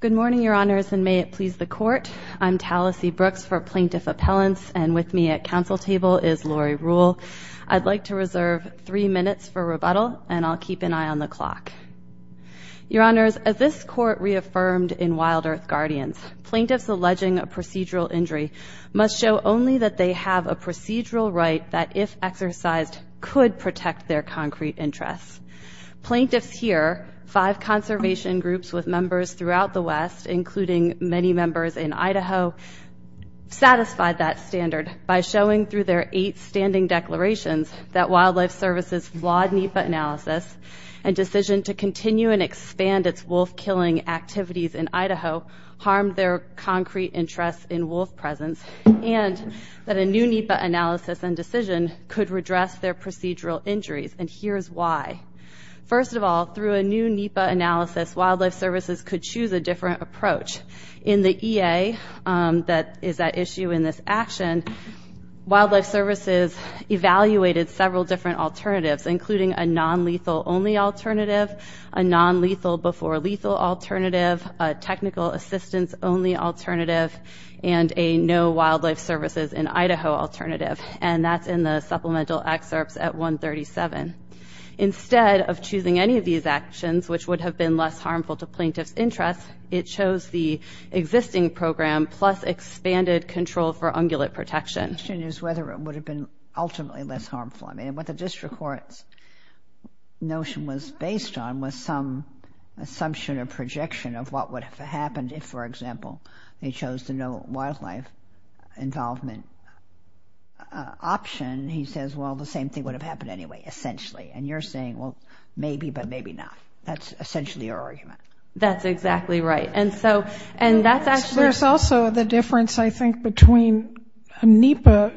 Good morning, Your Honors, and may it please the Court. I'm Talisee Brooks for Plaintiff Appellants, and with me at Council Table is Lori Ruhle. I'd like to reserve three minutes for rebuttal, and I'll keep an eye on the clock. Your Honors, as this Court reaffirmed in Wild Earth Guardians, plaintiffs alleging a procedural injury must show only that they have a procedural right that, if exercised, could protect their concrete interests. Plaintiffs here, five conservation groups with members throughout the West, including many members in Idaho, satisfied that standard by showing through their eight standing declarations that Wildlife Services' flawed NEPA analysis and decision to continue and expand its wolf-killing activities in Idaho harmed their concrete interests in wolf presence, and that a new NEPA analysis and decision could redress their procedural injuries. And here's why. First of all, through a new NEPA analysis, Wildlife Services could choose a different approach. In the EA that is at issue in this action, Wildlife Services evaluated several different alternatives, including a non-lethal-only alternative, a non-lethal-before-lethal alternative, a technical-assistance-only alternative, and a no-Wildlife-Services-in-Idaho alternative, and that's in the supplemental excerpts at 137. Instead of choosing any of these actions, which would have been less harmful to plaintiffs' interests, it chose the existing program plus expanded control for ungulate protection. The question is whether it would have been ultimately less harmful. I mean, what the District Court's notion was based on was some assumption or projection of what would have happened if, for example, they chose the no-wildlife involvement option. He says, well, the same thing would have happened anyway, essentially. And you're saying, well, maybe, but maybe not. That's essentially your argument. That's exactly right, and so, and that's actually There's also the difference, I think, between a NEPA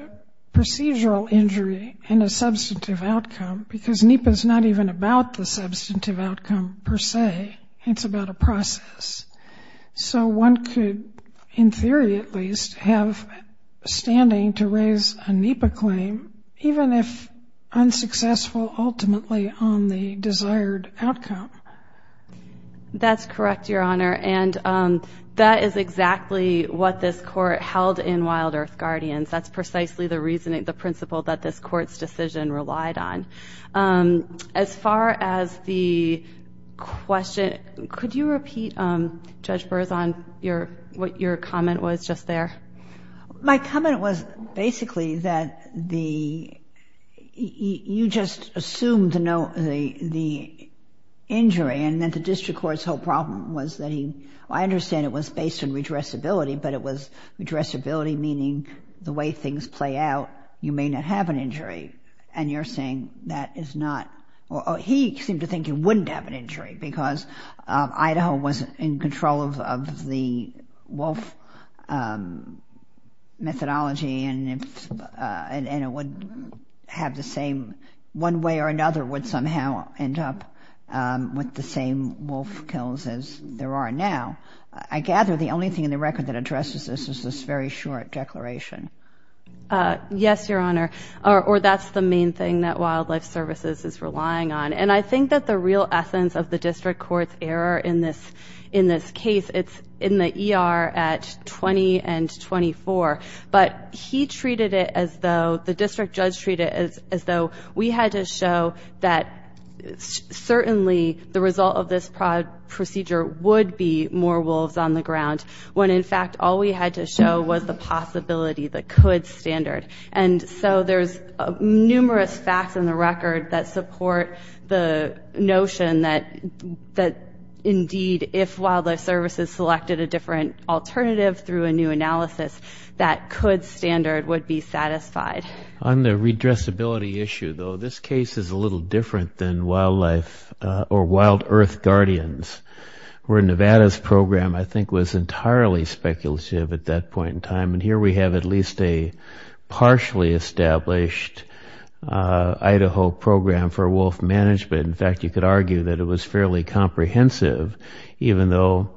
procedural injury and a substantive outcome, because NEPA's not even about the substantive outcome per se. It's about a process. So one could, in theory at least, have standing to raise a NEPA claim, even if unsuccessful ultimately on the desired outcome. That's correct, Your Honor, and that is exactly what this Court held in Wild Earth Guardians. That's precisely the principle that this Court's decision relied on. As far as the question, could you repeat, Judge Burzahn, what your comment was just there? My comment was basically that you just assumed the injury, and that the District Court's whole problem was that he I understand it was based on redressability, but it was redressability meaning the way things play out, you may not have an injury, and you're saying that is not He seemed to think you wouldn't have an injury, because Idaho was in control of the wolf methodology, and it would have the same, one way or another, would somehow end up with the same wolf kills as there are now. I gather the only thing in the record that addresses this is this very short declaration. Yes, Your Honor, or that's the main thing that Wildlife Services is relying on, and I think that the real essence of the District Court's error in this case, it's in the ER at 20 and 24, but he treated it as though, the District Judge treated it as though, we had to show that certainly the result of this procedure would be more wolves on the ground, when in fact all we had to show was the possibility, the could standard. And so there's numerous facts in the record that support the notion that indeed, if Wildlife Services selected a different alternative through a new analysis, that could standard would be satisfied. On the redressability issue though, this case is a little different than Wildlife, or Wild Earth Guardians, where Nevada's program, I think, was entirely speculative at that point in time, and here we have at least a partially established Idaho program for wolf management. In fact, you could argue that it was fairly comprehensive, even though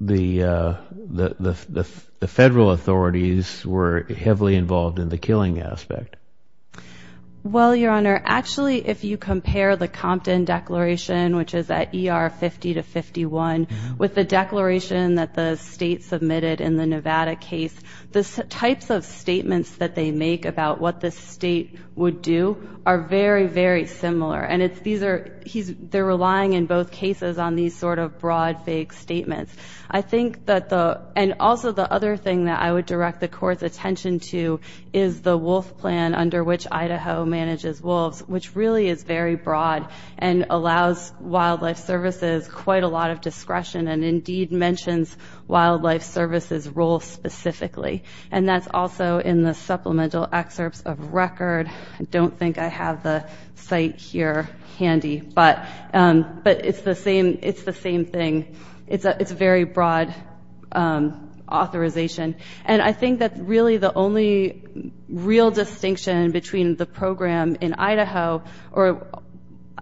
the federal authorities were heavily involved in the killing aspect. Well, Your Honor, actually if you compare the Compton Declaration, which is at ER 50 to 51, with the declaration that the state submitted in the Nevada case, the types of statements that they make about what the state would do are very, very similar, and they're relying in both cases on these sort of broad, vague statements. I think that the, and also the other thing that I would direct the Court's attention to is the wolf plan under which Idaho manages wolves, which really is very broad and allows Wildlife Services quite a lot of discretion and indeed mentions Wildlife Services' role specifically, and that's also in the supplemental excerpts of record. I don't think I have the site here handy, but it's the same thing. It's a very broad authorization, and I think that really the only real distinction between the program in Idaho or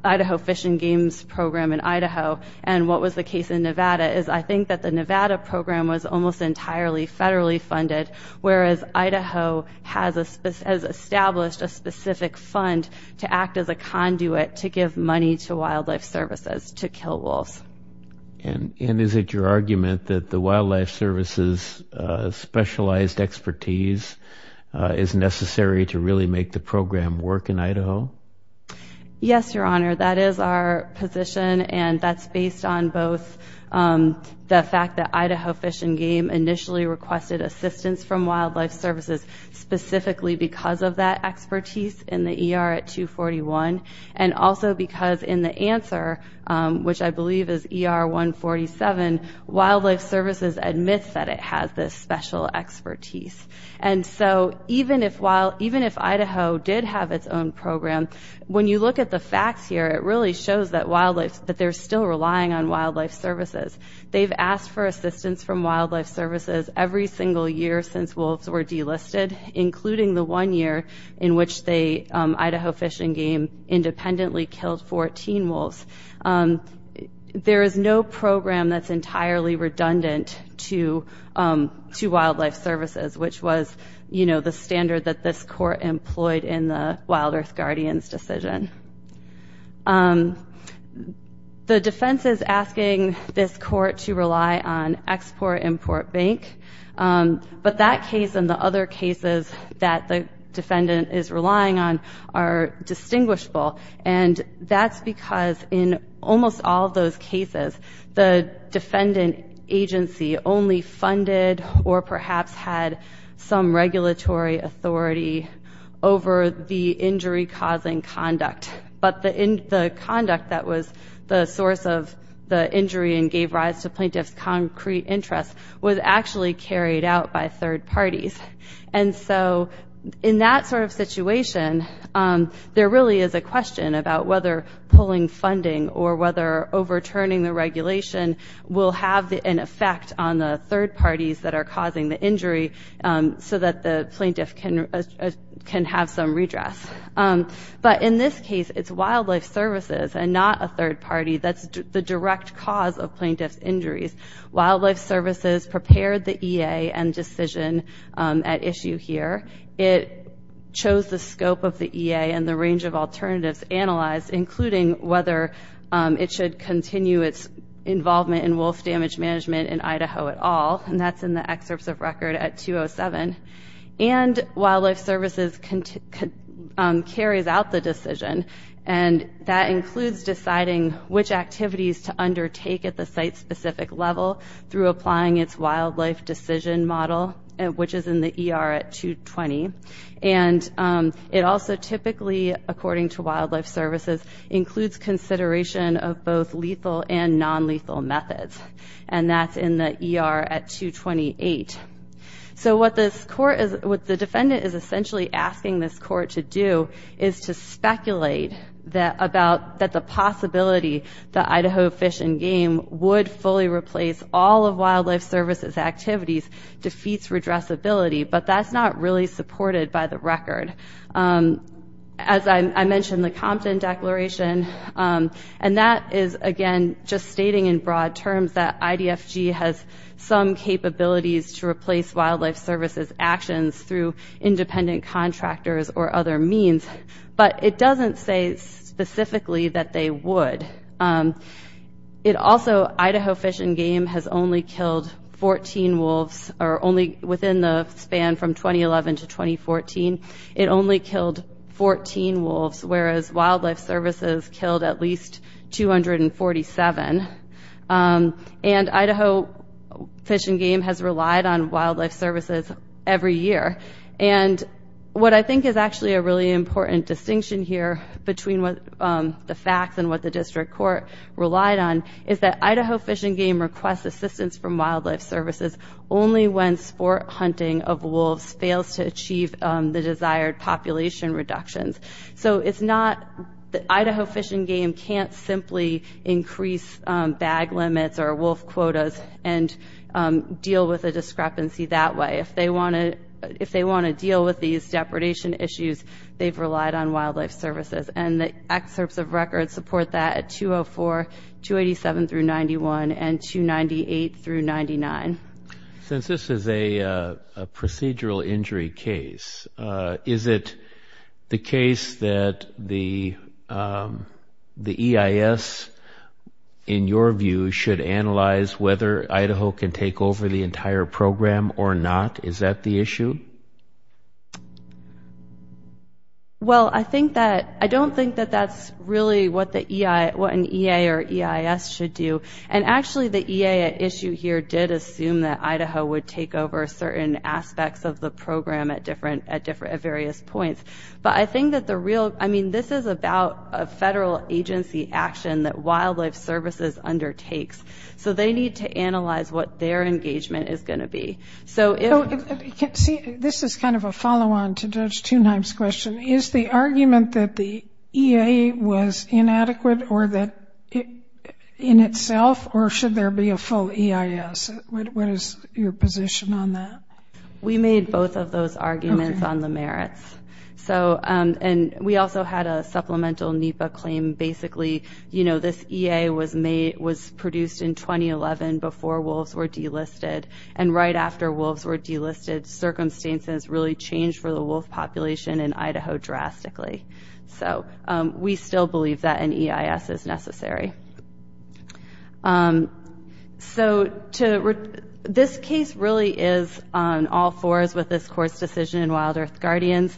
Idaho Fish and Games program in Idaho and what was the case in Nevada is I think that the Nevada program was almost entirely federally funded, whereas Idaho has established a specific fund to act as a conduit to give money to Wildlife Services to kill wolves. And is it your argument that the Wildlife Services' specialized expertise is necessary to really make the program work in Idaho? Yes, Your Honor, that is our position, and that's based on both the fact that specifically because of that expertise in the ER at 241 and also because in the answer, which I believe is ER 147, Wildlife Services admits that it has this special expertise. And so even if Idaho did have its own program, when you look at the facts here, it really shows that they're still relying on Wildlife Services. They've asked for assistance from Wildlife Services every single year since wolves were delisted, including the one year in which the Idaho Fish and Game independently killed 14 wolves. There is no program that's entirely redundant to Wildlife Services, which was the standard that this Court employed in the Wild Earth Guardians' decision. The defense is asking this Court to rely on Export-Import Bank, but that case and the other cases that the defendant is relying on are distinguishable. And that's because in almost all of those cases, the defendant agency only funded or perhaps had some regulatory authority over the injury-causing conduct. But the conduct that was the source of the injury and gave rise to plaintiff's concrete interest was actually carried out by third parties. And so in that sort of situation, there really is a question about whether pulling funding or whether overturning the regulation will have an effect on the third parties that are causing the injury so that the plaintiff can have some redress. But in this case, it's Wildlife Services and not a third party. That's the direct cause of plaintiff's injuries. Wildlife Services prepared the EA and decision at issue here. It chose the scope of the EA and the range of alternatives analyzed, including whether it should continue its involvement in wolf damage management in Idaho at all. And that's in the excerpts of record at 207. And Wildlife Services carries out the decision, and that includes deciding which activities to undertake at the site-specific level through applying its wildlife decision model, which is in the ER at 220. And it also typically, according to Wildlife Services, includes consideration of both lethal and nonlethal methods. And that's in the ER at 228. So what the defendant is essentially asking this court to do is to speculate that the possibility that Idaho Fish and Game would fully replace all of Wildlife Services' activities defeats redressability, but that's not really supported by the record. As I mentioned, the Compton Declaration, and that is, again, just stating in broad terms that IDFG has some capabilities to replace Wildlife Services' actions through independent contractors or other means, but it doesn't say specifically that they would. Also, Idaho Fish and Game has only killed 14 wolves, or only within the span from 2011 to 2014, it only killed 14 wolves, whereas Wildlife Services killed at least 247. And Idaho Fish and Game has relied on Wildlife Services every year. And what I think is actually a really important distinction here between the facts and what the district court relied on is that Idaho Fish and Game requests assistance from Wildlife Services only when sport hunting of wolves fails to achieve the desired population reductions. So it's not that Idaho Fish and Game can't simply increase bag limits or wolf quotas and deal with a discrepancy that way. If they want to deal with these depredation issues, they've relied on Wildlife Services. And the excerpts of record support that at 204, 287 through 91, and 298 through 99. Since this is a procedural injury case, is it the case that the EIS, in your view, should analyze whether Idaho can take over the entire program or not? Is that the issue? Well, I don't think that that's really what an EA or EIS should do. And actually, the EA at issue here did assume that Idaho would take over certain aspects of the program at various points. But I think that the real – I mean, this is about a federal agency action that Wildlife Services undertakes. So they need to analyze what their engagement is going to be. So if – See, this is kind of a follow-on to Judge Thunheim's question. Is the argument that the EA was inadequate or that – in itself? Or should there be a full EIS? What is your position on that? We made both of those arguments on the merits. So – and we also had a supplemental NEPA claim. Basically, you know, this EA was produced in 2011 before wolves were delisted. And right after wolves were delisted, circumstances really changed for the wolf population in Idaho drastically. So we still believe that an EIS is necessary. So to – this case really is on all fours with this court's decision in Wild Earth Guardians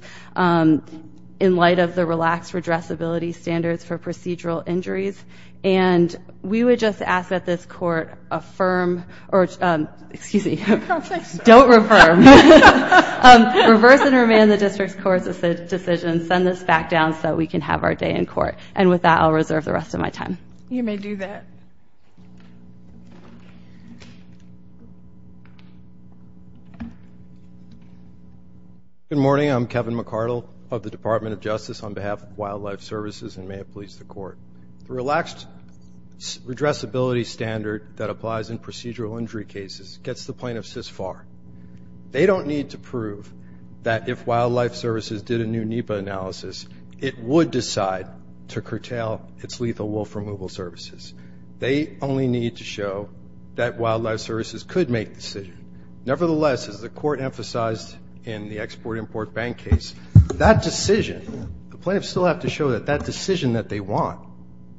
in light of the relaxed redressability standards for procedural injuries. And we would just ask that this court affirm – or – excuse me. Don't affirm. Reverse and remand the district's court's decision. Send this back down so that we can have our day in court. And with that, I'll reserve the rest of my time. You may do that. Good morning. I'm Kevin McCardle of the Department of Justice on behalf of Wildlife Services and may it please the court. The relaxed redressability standard that applies in procedural injury cases gets the plaintiffs this far. They don't need to prove that if Wildlife Services did a new NEPA analysis, it would decide to curtail its lethal wolf removal services. They only need to show that Wildlife Services could make the decision. Nevertheless, as the court emphasized in the Export-Import Bank case, that decision – the plaintiffs still have to show that that decision that they want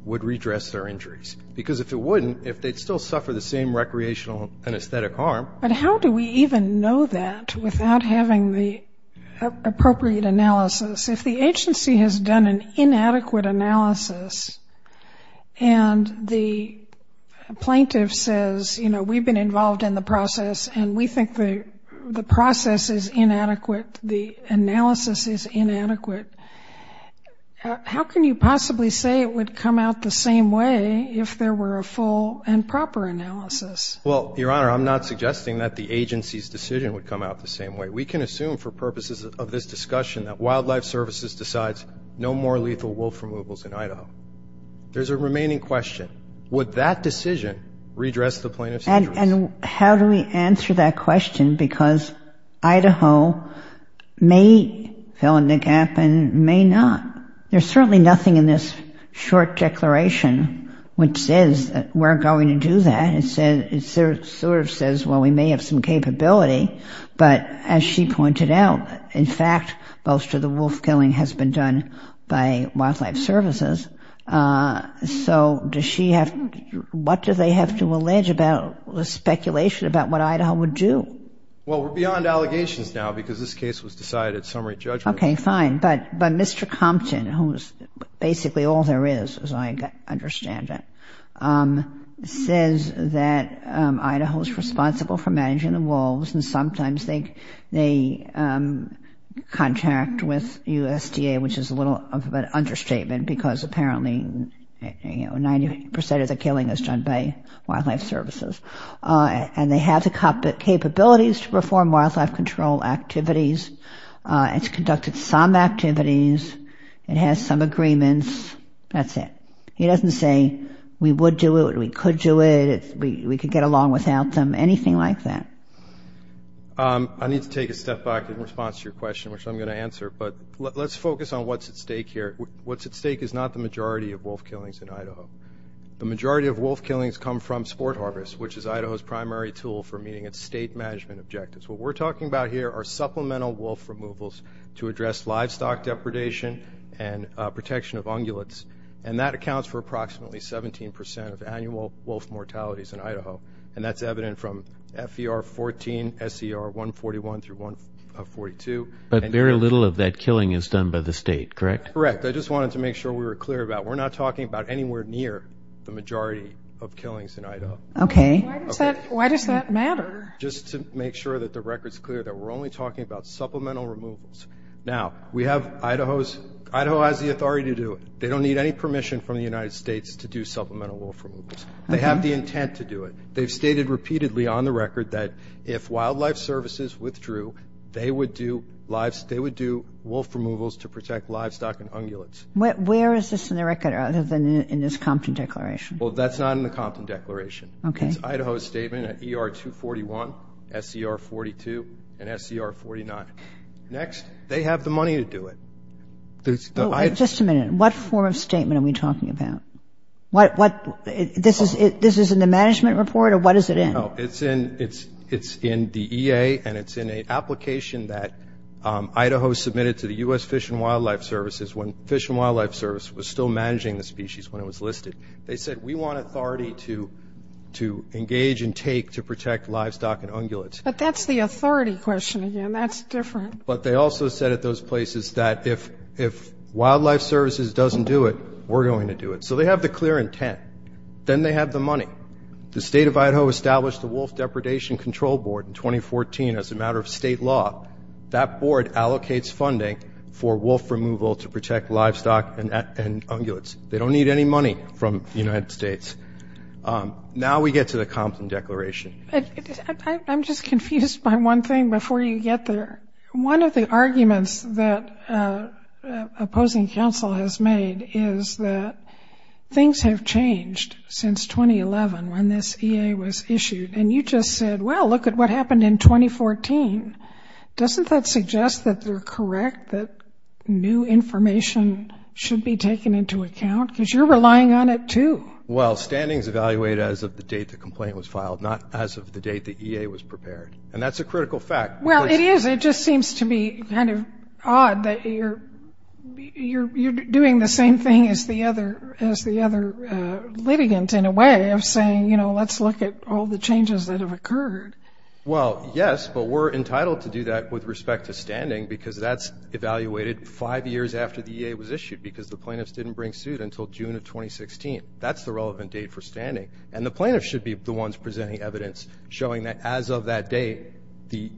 would redress their injuries. Because if it wouldn't, if they'd still suffer the same recreational and aesthetic harm. But how do we even know that without having the appropriate analysis? If the agency has done an inadequate analysis and the plaintiff says, you know, we've been involved in the process and we think the process is inadequate, the analysis is inadequate, how can you possibly say it would come out the same way if there were a full and proper analysis? Well, Your Honor, I'm not suggesting that the agency's decision would come out the same way. We can assume for purposes of this discussion that Wildlife Services decides no more lethal wolf removals in Idaho. There's a remaining question. Would that decision redress the plaintiff's injuries? And how do we answer that question? Because Idaho may fill in the gap and may not. There's certainly nothing in this short declaration which says that we're going to do that. It sort of says, well, we may have some capability. But as she pointed out, in fact, most of the wolf killing has been done by Wildlife Services. So what do they have to allege about the speculation about what Idaho would do? Well, we're beyond allegations now because this case was decided at summary judgment. Okay, fine. But Mr. Compton, who's basically all there is, as I understand it, says that Idaho's responsible for managing the wolves and sometimes they contact with USDA, which is a little of an understatement because apparently 90 percent of the killing is done by Wildlife Services. And they have the capabilities to perform wildlife control activities. It's conducted some activities. It has some agreements. That's it. He doesn't say we would do it, we could do it, we could get along without them, anything like that. I need to take a step back in response to your question, which I'm going to answer. But let's focus on what's at stake here. What's at stake is not the majority of wolf killings in Idaho. The majority of wolf killings come from sport harvest, which is Idaho's primary tool for meeting its state management objectives. What we're talking about here are supplemental wolf removals to address livestock depredation and protection of ungulates. And that accounts for approximately 17 percent of annual wolf mortalities in Idaho. And that's evident from FER 14, SCR 141 through 142. But very little of that killing is done by the state, correct? Correct. I just wanted to make sure we were clear about we're not talking about anywhere near the majority of killings in Idaho. Okay. Why does that matter? Just to make sure that the record's clear that we're only talking about supplemental removals. Now, we have Idaho's – Idaho has the authority to do it. They don't need any permission from the United States to do supplemental wolf removals. They have the intent to do it. They've stated repeatedly on the record that if Wildlife Services withdrew, they would do – they would do wolf removals to protect livestock and ungulates. Where is this in the record other than in this Compton Declaration? Well, that's not in the Compton Declaration. Okay. It's Idaho's statement at ER 241, SCR 42, and SCR 49. Next, they have the money to do it. Just a minute. What form of statement are we talking about? What – this is in the management report, or what is it in? No, it's in – it's in the EA, and it's in an application that Idaho submitted to the U.S. Fish and Wildlife Services when Fish and Wildlife Service was still managing the species when it was listed. They said, we want authority to engage and take to protect livestock and ungulates. But that's the authority question again. That's different. But they also said at those places that if Wildlife Services doesn't do it, we're going to do it. So they have the clear intent. Then they have the money. The State of Idaho established the Wolf Depredation Control Board in 2014 as a matter of state law. That board allocates funding for wolf removal to protect livestock and ungulates. They don't need any money from the United States. Now we get to the Compton Declaration. I'm just confused by one thing before you get there. One of the arguments that opposing counsel has made is that things have changed since 2011 when this EA was issued, and you just said, well, look at what happened in 2014. Doesn't that suggest that they're correct, that new information should be taken into account? Because you're relying on it too. Well, standings evaluate as of the date the complaint was filed, not as of the date the EA was prepared. And that's a critical fact. Well, it is. It just seems to be kind of odd that you're doing the same thing as the other litigant in a way of saying, you know, let's look at all the changes that have occurred. Well, yes, but we're entitled to do that with respect to standing because that's evaluated five years after the EA was issued because the plaintiffs didn't bring suit until June of 2016. That's the relevant date for standing. And the plaintiffs should be the ones presenting evidence showing that as of that date, the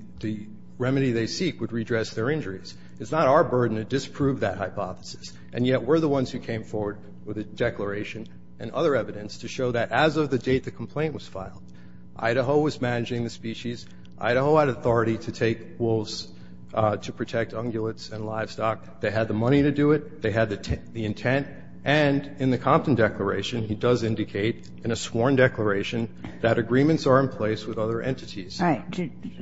remedy they seek would redress their injuries. It's not our burden to disprove that hypothesis, and yet we're the ones who came forward with a declaration and other evidence to show that as of the date the complaint was filed, Idaho was managing the species. Idaho had authority to take wolves to protect ungulates and livestock. They had the money to do it. They had the intent. And in the Compton Declaration, he does indicate in a sworn declaration that agreements are in place with other entities. All right.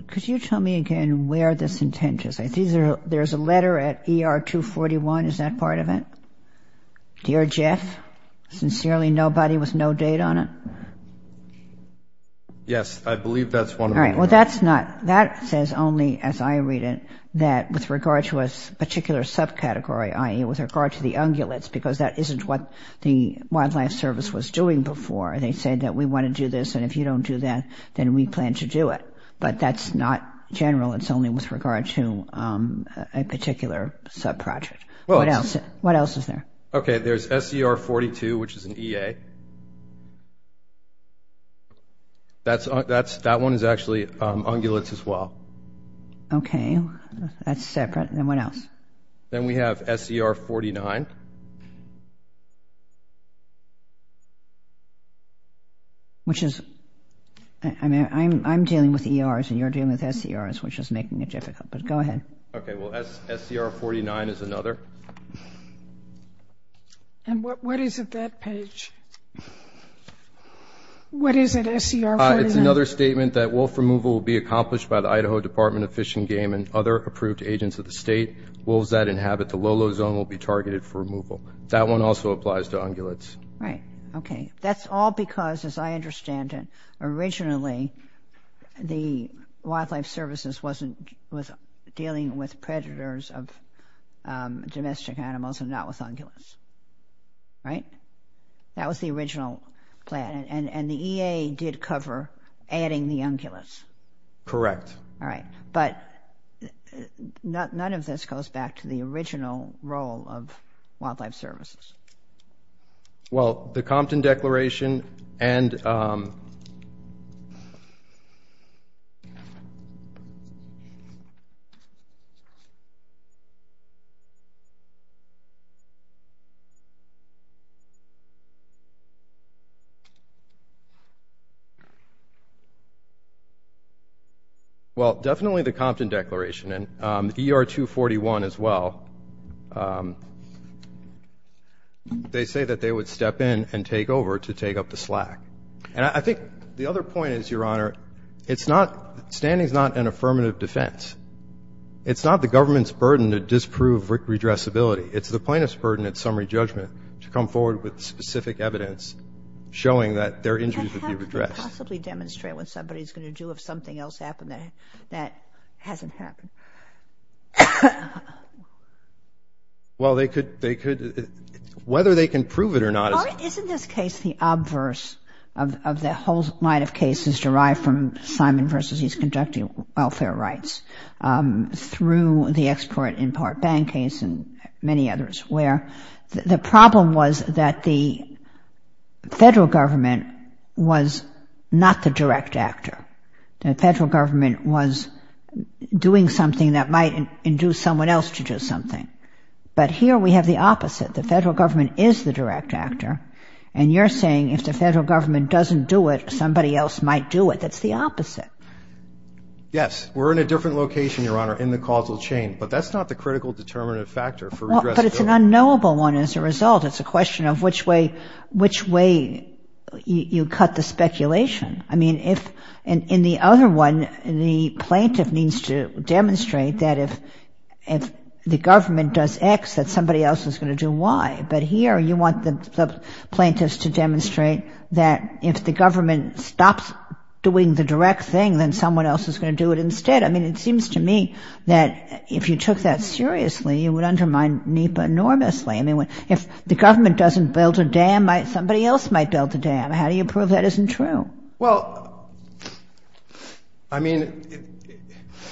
Could you tell me again where this intent is? There's a letter at ER 241. Is that part of it? Dear Jeff, sincerely nobody with no date on it? Yes, I believe that's one of them. All right. Well, that's not. That says only, as I read it, that with regard to a particular subcategory, i.e., with regard to the ungulates, because that isn't what the Wildlife Service was doing before. They said that we want to do this, and if you don't do that, then we plan to do it. But that's not general. It's only with regard to a particular subproject. What else is there? Okay. There's SCR 42, which is an EA. That one is actually ungulates as well. Okay. That's separate. Then what else? Then we have SCR 49. Which is, I mean, I'm dealing with ERs and you're dealing with SCRs, which is making it difficult. But go ahead. Okay. Well, SCR 49 is another. And what is it, that page? What is it, SCR 49? It's another statement that wolf removal will be accomplished by the Idaho Department of Fish and Game and other approved agents of the state. Wolves that inhabit the low-low zone will be targeted for removal. That one also applies to ungulates. Right. Okay. That's all because, as I understand it, originally the Wildlife Services wasn't dealing with predators of domestic animals and not with ungulates. Right? That was the original plan. And the EA did cover adding the ungulates. Correct. All right. But none of this goes back to the original role of Wildlife Services. Well, the Compton Declaration and ER 241 as well. They say that they would step in and take over to take up the slack. And I think the other point is, Your Honor, standing is not an affirmative defense. It's not the government's burden to disprove redressability. It's the plaintiff's burden at summary judgment to come forward with specific evidence showing that their injuries would be redressed. How can you possibly demonstrate what somebody is going to do if something else happened that hasn't happened? Well, they could, whether they can prove it or not. Isn't this case the obverse of the whole line of cases derived from Simon v. His Conducting Welfare Rights through the Export-Import Bank case and many others, where the problem was that the federal government was not the direct actor. The federal government was doing something that might induce someone else to do something. But here we have the opposite. The federal government is the direct actor. And you're saying if the federal government doesn't do it, somebody else might do it. That's the opposite. Yes. We're in a different location, Your Honor, in the causal chain. But that's not the critical determinative factor for redressability. But it's an unknowable one as a result. It's a question of which way you cut the speculation. I mean, in the other one, the plaintiff needs to demonstrate that if the government does X, that somebody else is going to do Y. But here you want the plaintiffs to demonstrate that if the government stops doing the direct thing, then someone else is going to do it instead. I mean, it seems to me that if you took that seriously, you would undermine NEPA enormously. I mean, if the government doesn't build a dam, somebody else might build a dam. How do you prove that isn't true? Well, I mean,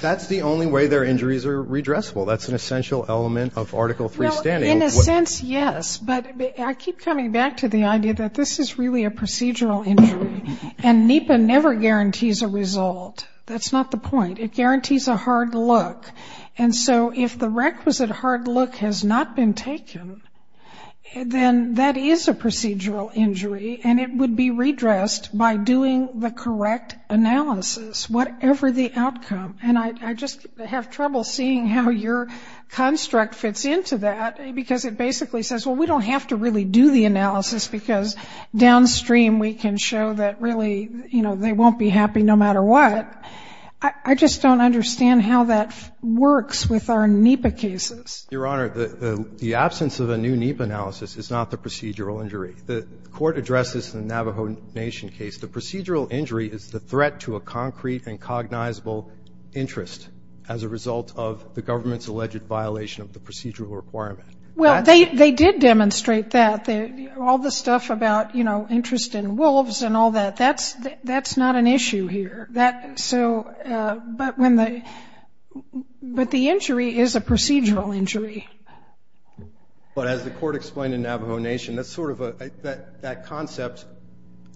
that's the only way their injuries are redressable. That's an essential element of Article III standing. Well, in a sense, yes. But I keep coming back to the idea that this is really a procedural injury. And NEPA never guarantees a result. That's not the point. It guarantees a hard look. And so if the requisite hard look has not been taken, then that is a procedural injury, and it would be redressed by doing the correct analysis, whatever the outcome. And I just have trouble seeing how your construct fits into that, because it basically says, well, we don't have to really do the analysis, because downstream we can show that really, you know, they won't be happy no matter what. I just don't understand how that works with our NEPA cases. Your Honor, the absence of a new NEPA analysis is not the procedural injury. The court addressed this in the Navajo Nation case. The procedural injury is the threat to a concrete and cognizable interest as a result of the government's alleged violation of the procedural requirement. Well, they did demonstrate that. All the stuff about, you know, interest in wolves and all that, that's not an issue here. That so ‑‑ but when the ‑‑ but the injury is a procedural injury. But as the court explained in Navajo Nation, that's sort of a ‑‑ that concept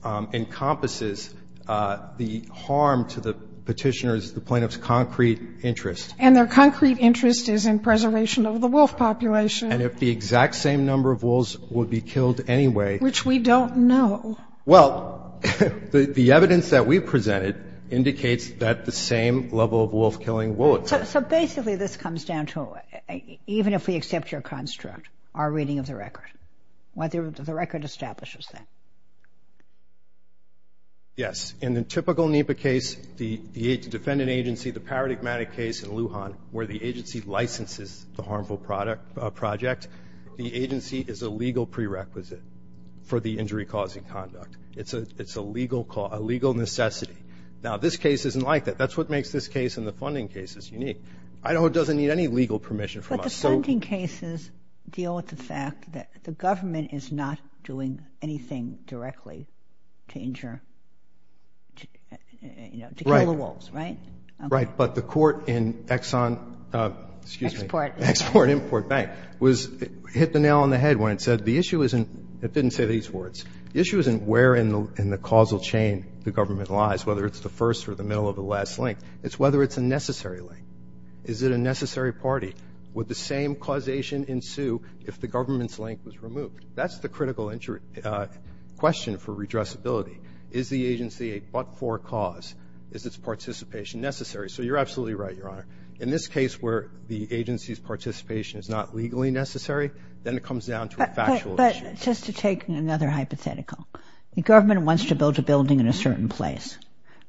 encompasses the harm to the Petitioner's, the Plaintiff's, concrete interest. And their concrete interest is in preservation of the wolf population. And if the exact same number of wolves would be killed anyway ‑‑ Which we don't know. Well, the evidence that we presented indicates that the same level of wolf killing will occur. So basically this comes down to, even if we accept your construct, our reading of the record, whether the record establishes that. Yes. In the typical NEPA case, the defendant agency, the paradigmatic case in Lujan, where the agency licenses the harmful project, the agency is a legal prerequisite for the injury causing conduct. It's a legal necessity. Now, this case isn't like that. That's what makes this case and the funding cases unique. Idaho doesn't need any legal permission from us. But the funding cases deal with the fact that the government is not doing anything directly to injure, you know, to kill the wolves, right? Right. But the court in Exxon, excuse me. Export. Export, import, bank, hit the nail on the head when it said the issue isn't ‑‑ it didn't say these words. The issue isn't where in the causal chain the government lies, whether it's the first or the middle or the last link. It's whether it's a necessary link. Is it a necessary party? Would the same causation ensue if the government's link was removed? That's the critical question for redressability. Is the agency a but‑for cause? Is its participation necessary? So you're absolutely right, Your Honor. In this case where the agency's participation is not legally necessary, then it comes down to a factual issue. But just to take another hypothetical. The government wants to build a building in a certain place,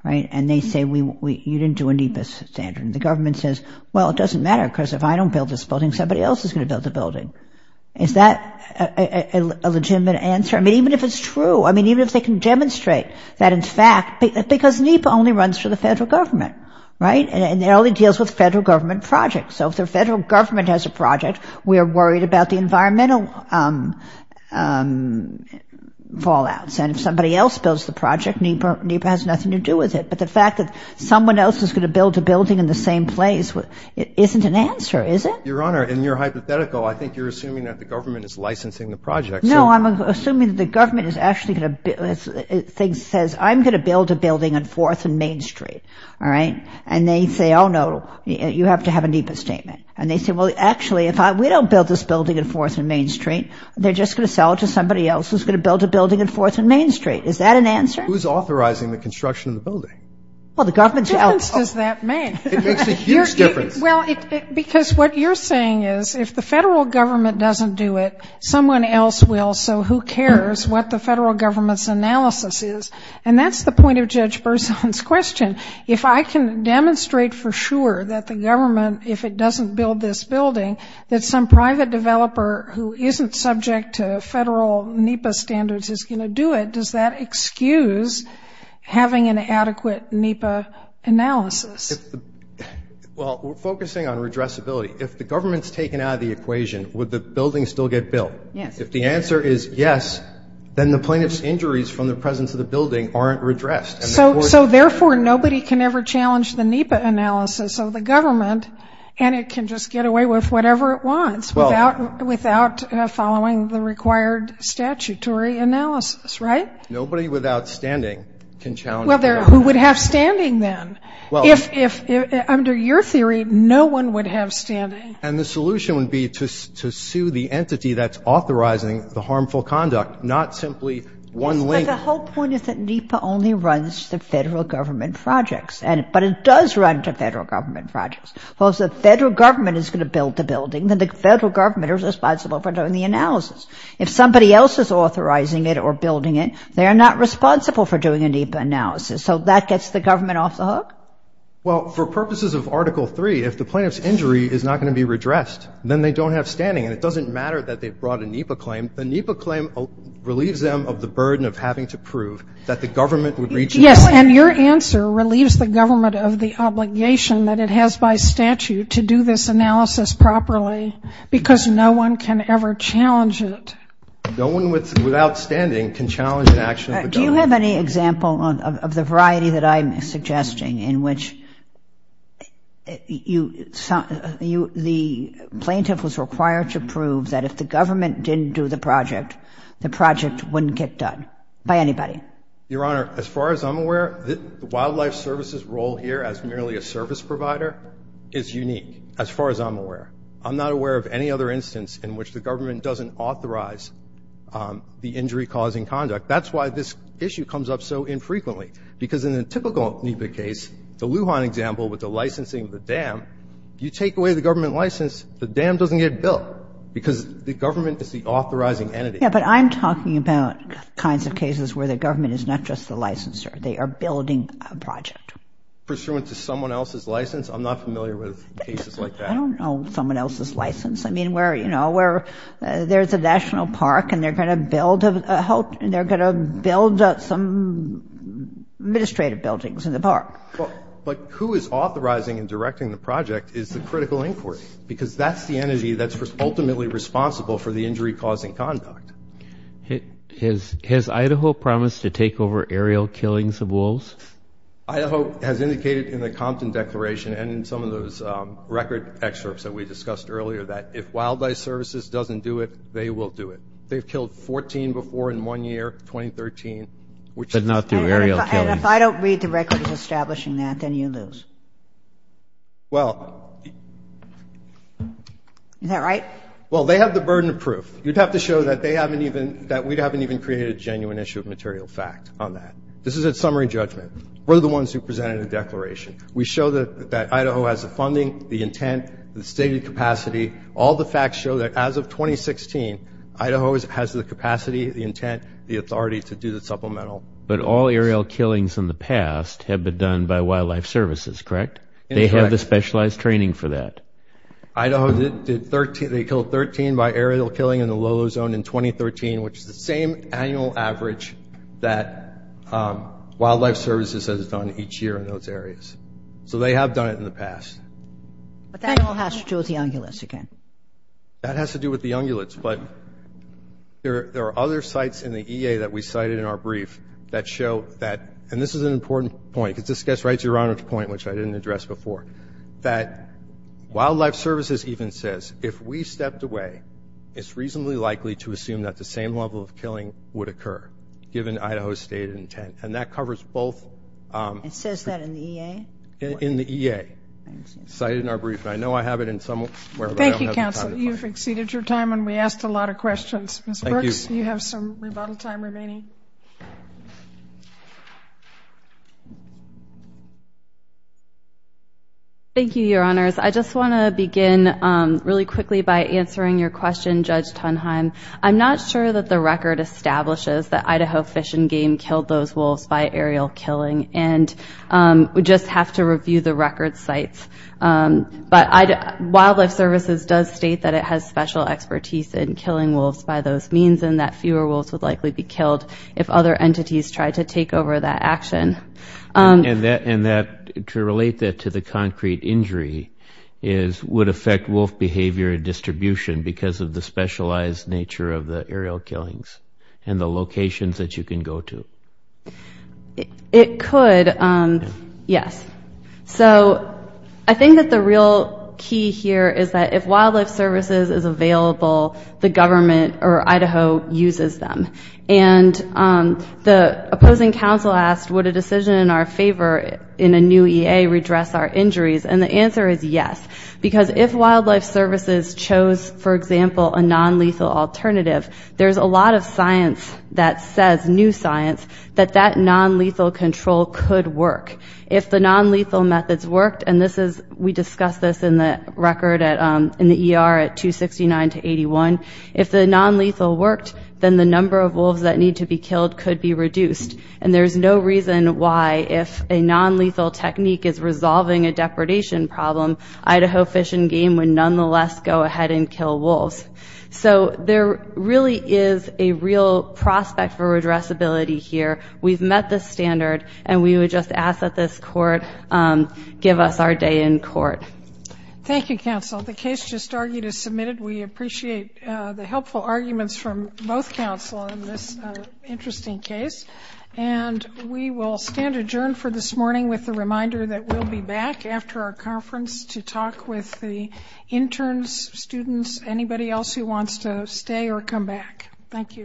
right? And they say you didn't do a NEPA standard. And the government says, well, it doesn't matter because if I don't build this building, somebody else is going to build the building. Is that a legitimate answer? I mean, even if it's true, I mean, even if they can demonstrate that in fact, because NEPA only runs for the federal government, right? And it only deals with federal government projects. So if the federal government has a project, we are worried about the environmental fallouts. And if somebody else builds the project, NEPA has nothing to do with it. But the fact that someone else is going to build a building in the same place, it isn't an answer, is it? Your Honor, in your hypothetical, I think you're assuming that the government is licensing the project. No, I'm assuming that the government is actually going to ‑‑ says I'm going to build a building on 4th and Main Street, all right? And they say, oh, no, you have to have a NEPA statement. And they say, well, actually, if we don't build this building on 4th and Main Street, they're just going to sell it to somebody else who's going to build a building on 4th and Main Street. Is that an answer? Who's authorizing the construction of the building? Well, the government's out. What difference does that make? It makes a huge difference. Well, because what you're saying is if the federal government doesn't do it, someone else will. So who cares what the federal government's analysis is? And that's the point of Judge Berzon's question. If I can demonstrate for sure that the government, if it doesn't build this building, that some private developer who isn't subject to federal NEPA standards is going to do it, does that excuse having an adequate NEPA analysis? Well, we're focusing on redressability. If the government's taken out of the equation, would the building still get built? Yes. If the answer is yes, then the plaintiff's injuries from the presence of the building aren't redressed. So, therefore, nobody can ever challenge the NEPA analysis of the government, and it can just get away with whatever it wants without following the required statutory analysis, right? Nobody without standing can challenge the NEPA analysis. Well, who would have standing then? Under your theory, no one would have standing. And the solution would be to sue the entity that's authorizing the harmful conduct, not simply one link. But the whole point is that NEPA only runs the federal government projects, but it does run to federal government projects. Well, if the federal government is going to build the building, then the federal government is responsible for doing the analysis. If somebody else is authorizing it or building it, they are not responsible for doing a NEPA analysis. So that gets the government off the hook? Well, for purposes of Article III, if the plaintiff's injury is not going to be redressed, then they don't have standing, and it doesn't matter that they've brought a NEPA claim. And the NEPA claim relieves them of the burden of having to prove that the government would reach an agreement. Yes, and your answer relieves the government of the obligation that it has by statute to do this analysis properly, because no one can ever challenge it. No one without standing can challenge an action of the government. Do you have any example of the variety that I'm suggesting, in which the plaintiff was required to prove that if the government didn't do the project, the project wouldn't get done by anybody? Your Honor, as far as I'm aware, the Wildlife Services role here as merely a service provider is unique, as far as I'm aware. I'm not aware of any other instance in which the government doesn't authorize the injury-causing conduct. That's why this issue comes up so infrequently, because in a typical NEPA case, the Lujan example with the licensing of the dam, you take away the government license, the dam doesn't get built, because the government is the authorizing entity. Yes, but I'm talking about kinds of cases where the government is not just the licensor. They are building a project. Pursuant to someone else's license? I'm not familiar with cases like that. I don't know someone else's license. I mean, you know, where there's a national park, and they're going to build some administrative buildings in the park. But who is authorizing and directing the project is the critical inquiry, because that's the energy that's ultimately responsible for the injury-causing conduct. Has Idaho promised to take over aerial killings of wolves? Idaho has indicated in the Compton Declaration and in some of those record excerpts that we discussed earlier that if Wildlife Services doesn't do it, they will do it. They've killed 14 before in one year, 2013. Did not do aerial killings. And if I don't read the records establishing that, then you lose. Well. Is that right? Well, they have the burden of proof. You'd have to show that we haven't even created a genuine issue of material fact on that. This is a summary judgment. We're the ones who presented a declaration. We show that Idaho has the funding, the intent, the stated capacity. All the facts show that as of 2016, Idaho has the capacity, the intent, the authority to do the supplemental. But all aerial killings in the past have been done by Wildlife Services, correct? Correct. They have the specialized training for that. Idaho did 13. They killed 13 by aerial killing in the Lolo Zone in 2013, which is the same annual average that Wildlife Services has done each year in those areas. So they have done it in the past. But that all has to do with the ungulates again. That has to do with the ungulates. But there are other sites in the EA that we cited in our brief that show that, and this is an important point because this gets right to your Honor's point, which I didn't address before, that Wildlife Services even says, if we stepped away, it's reasonably likely to assume that the same level of killing would occur, given Idaho's stated intent. And that covers both. It says that in the EA? In the EA, cited in our brief. And I know I have it in somewhere, but I don't have the time. Thank you, Counsel. You've exceeded your time, and we asked a lot of questions. Ms. Brooks, you have some rebuttal time remaining. Thank you, Your Honors. I just want to begin really quickly by answering your question, Judge Tunheim. I'm not sure that the record establishes that Idaho Fish and Game killed those wolves by aerial killing, and we just have to review the record sites. But Wildlife Services does state that it has special expertise in killing wolves by those means, and that fewer wolves would likely be killed if other entities tried to take over that action. And to relate that to the concrete injury would affect wolf behavior and distribution because of the specialized nature of the aerial killings and the locations that you can go to. It could, yes. So I think that the real key here is that if Wildlife Services is available, the government or Idaho uses them. And the opposing counsel asked would a decision in our favor in a new EA redress our injuries, and the answer is yes. Because if Wildlife Services chose, for example, a nonlethal alternative, there's a lot of science that says, new science, that that nonlethal control could work. If the nonlethal methods worked, and we discussed this in the record in the ER at 269 to 81, if the nonlethal worked, then the number of wolves that need to be killed could be reduced. And there's no reason why if a nonlethal technique is resolving a depredation problem, Idaho Fish and Game would nonetheless go ahead and kill wolves. So there really is a real prospect for redressability here. We've met the standard, and we would just ask that this court give us our day in court. Thank you, counsel. The case just argued is submitted. We appreciate the helpful arguments from both counsel in this interesting case. And we will stand adjourned for this morning with the reminder that we'll be back after our conference to talk with the interns, students, anybody else who wants to stay or come back. Thank you.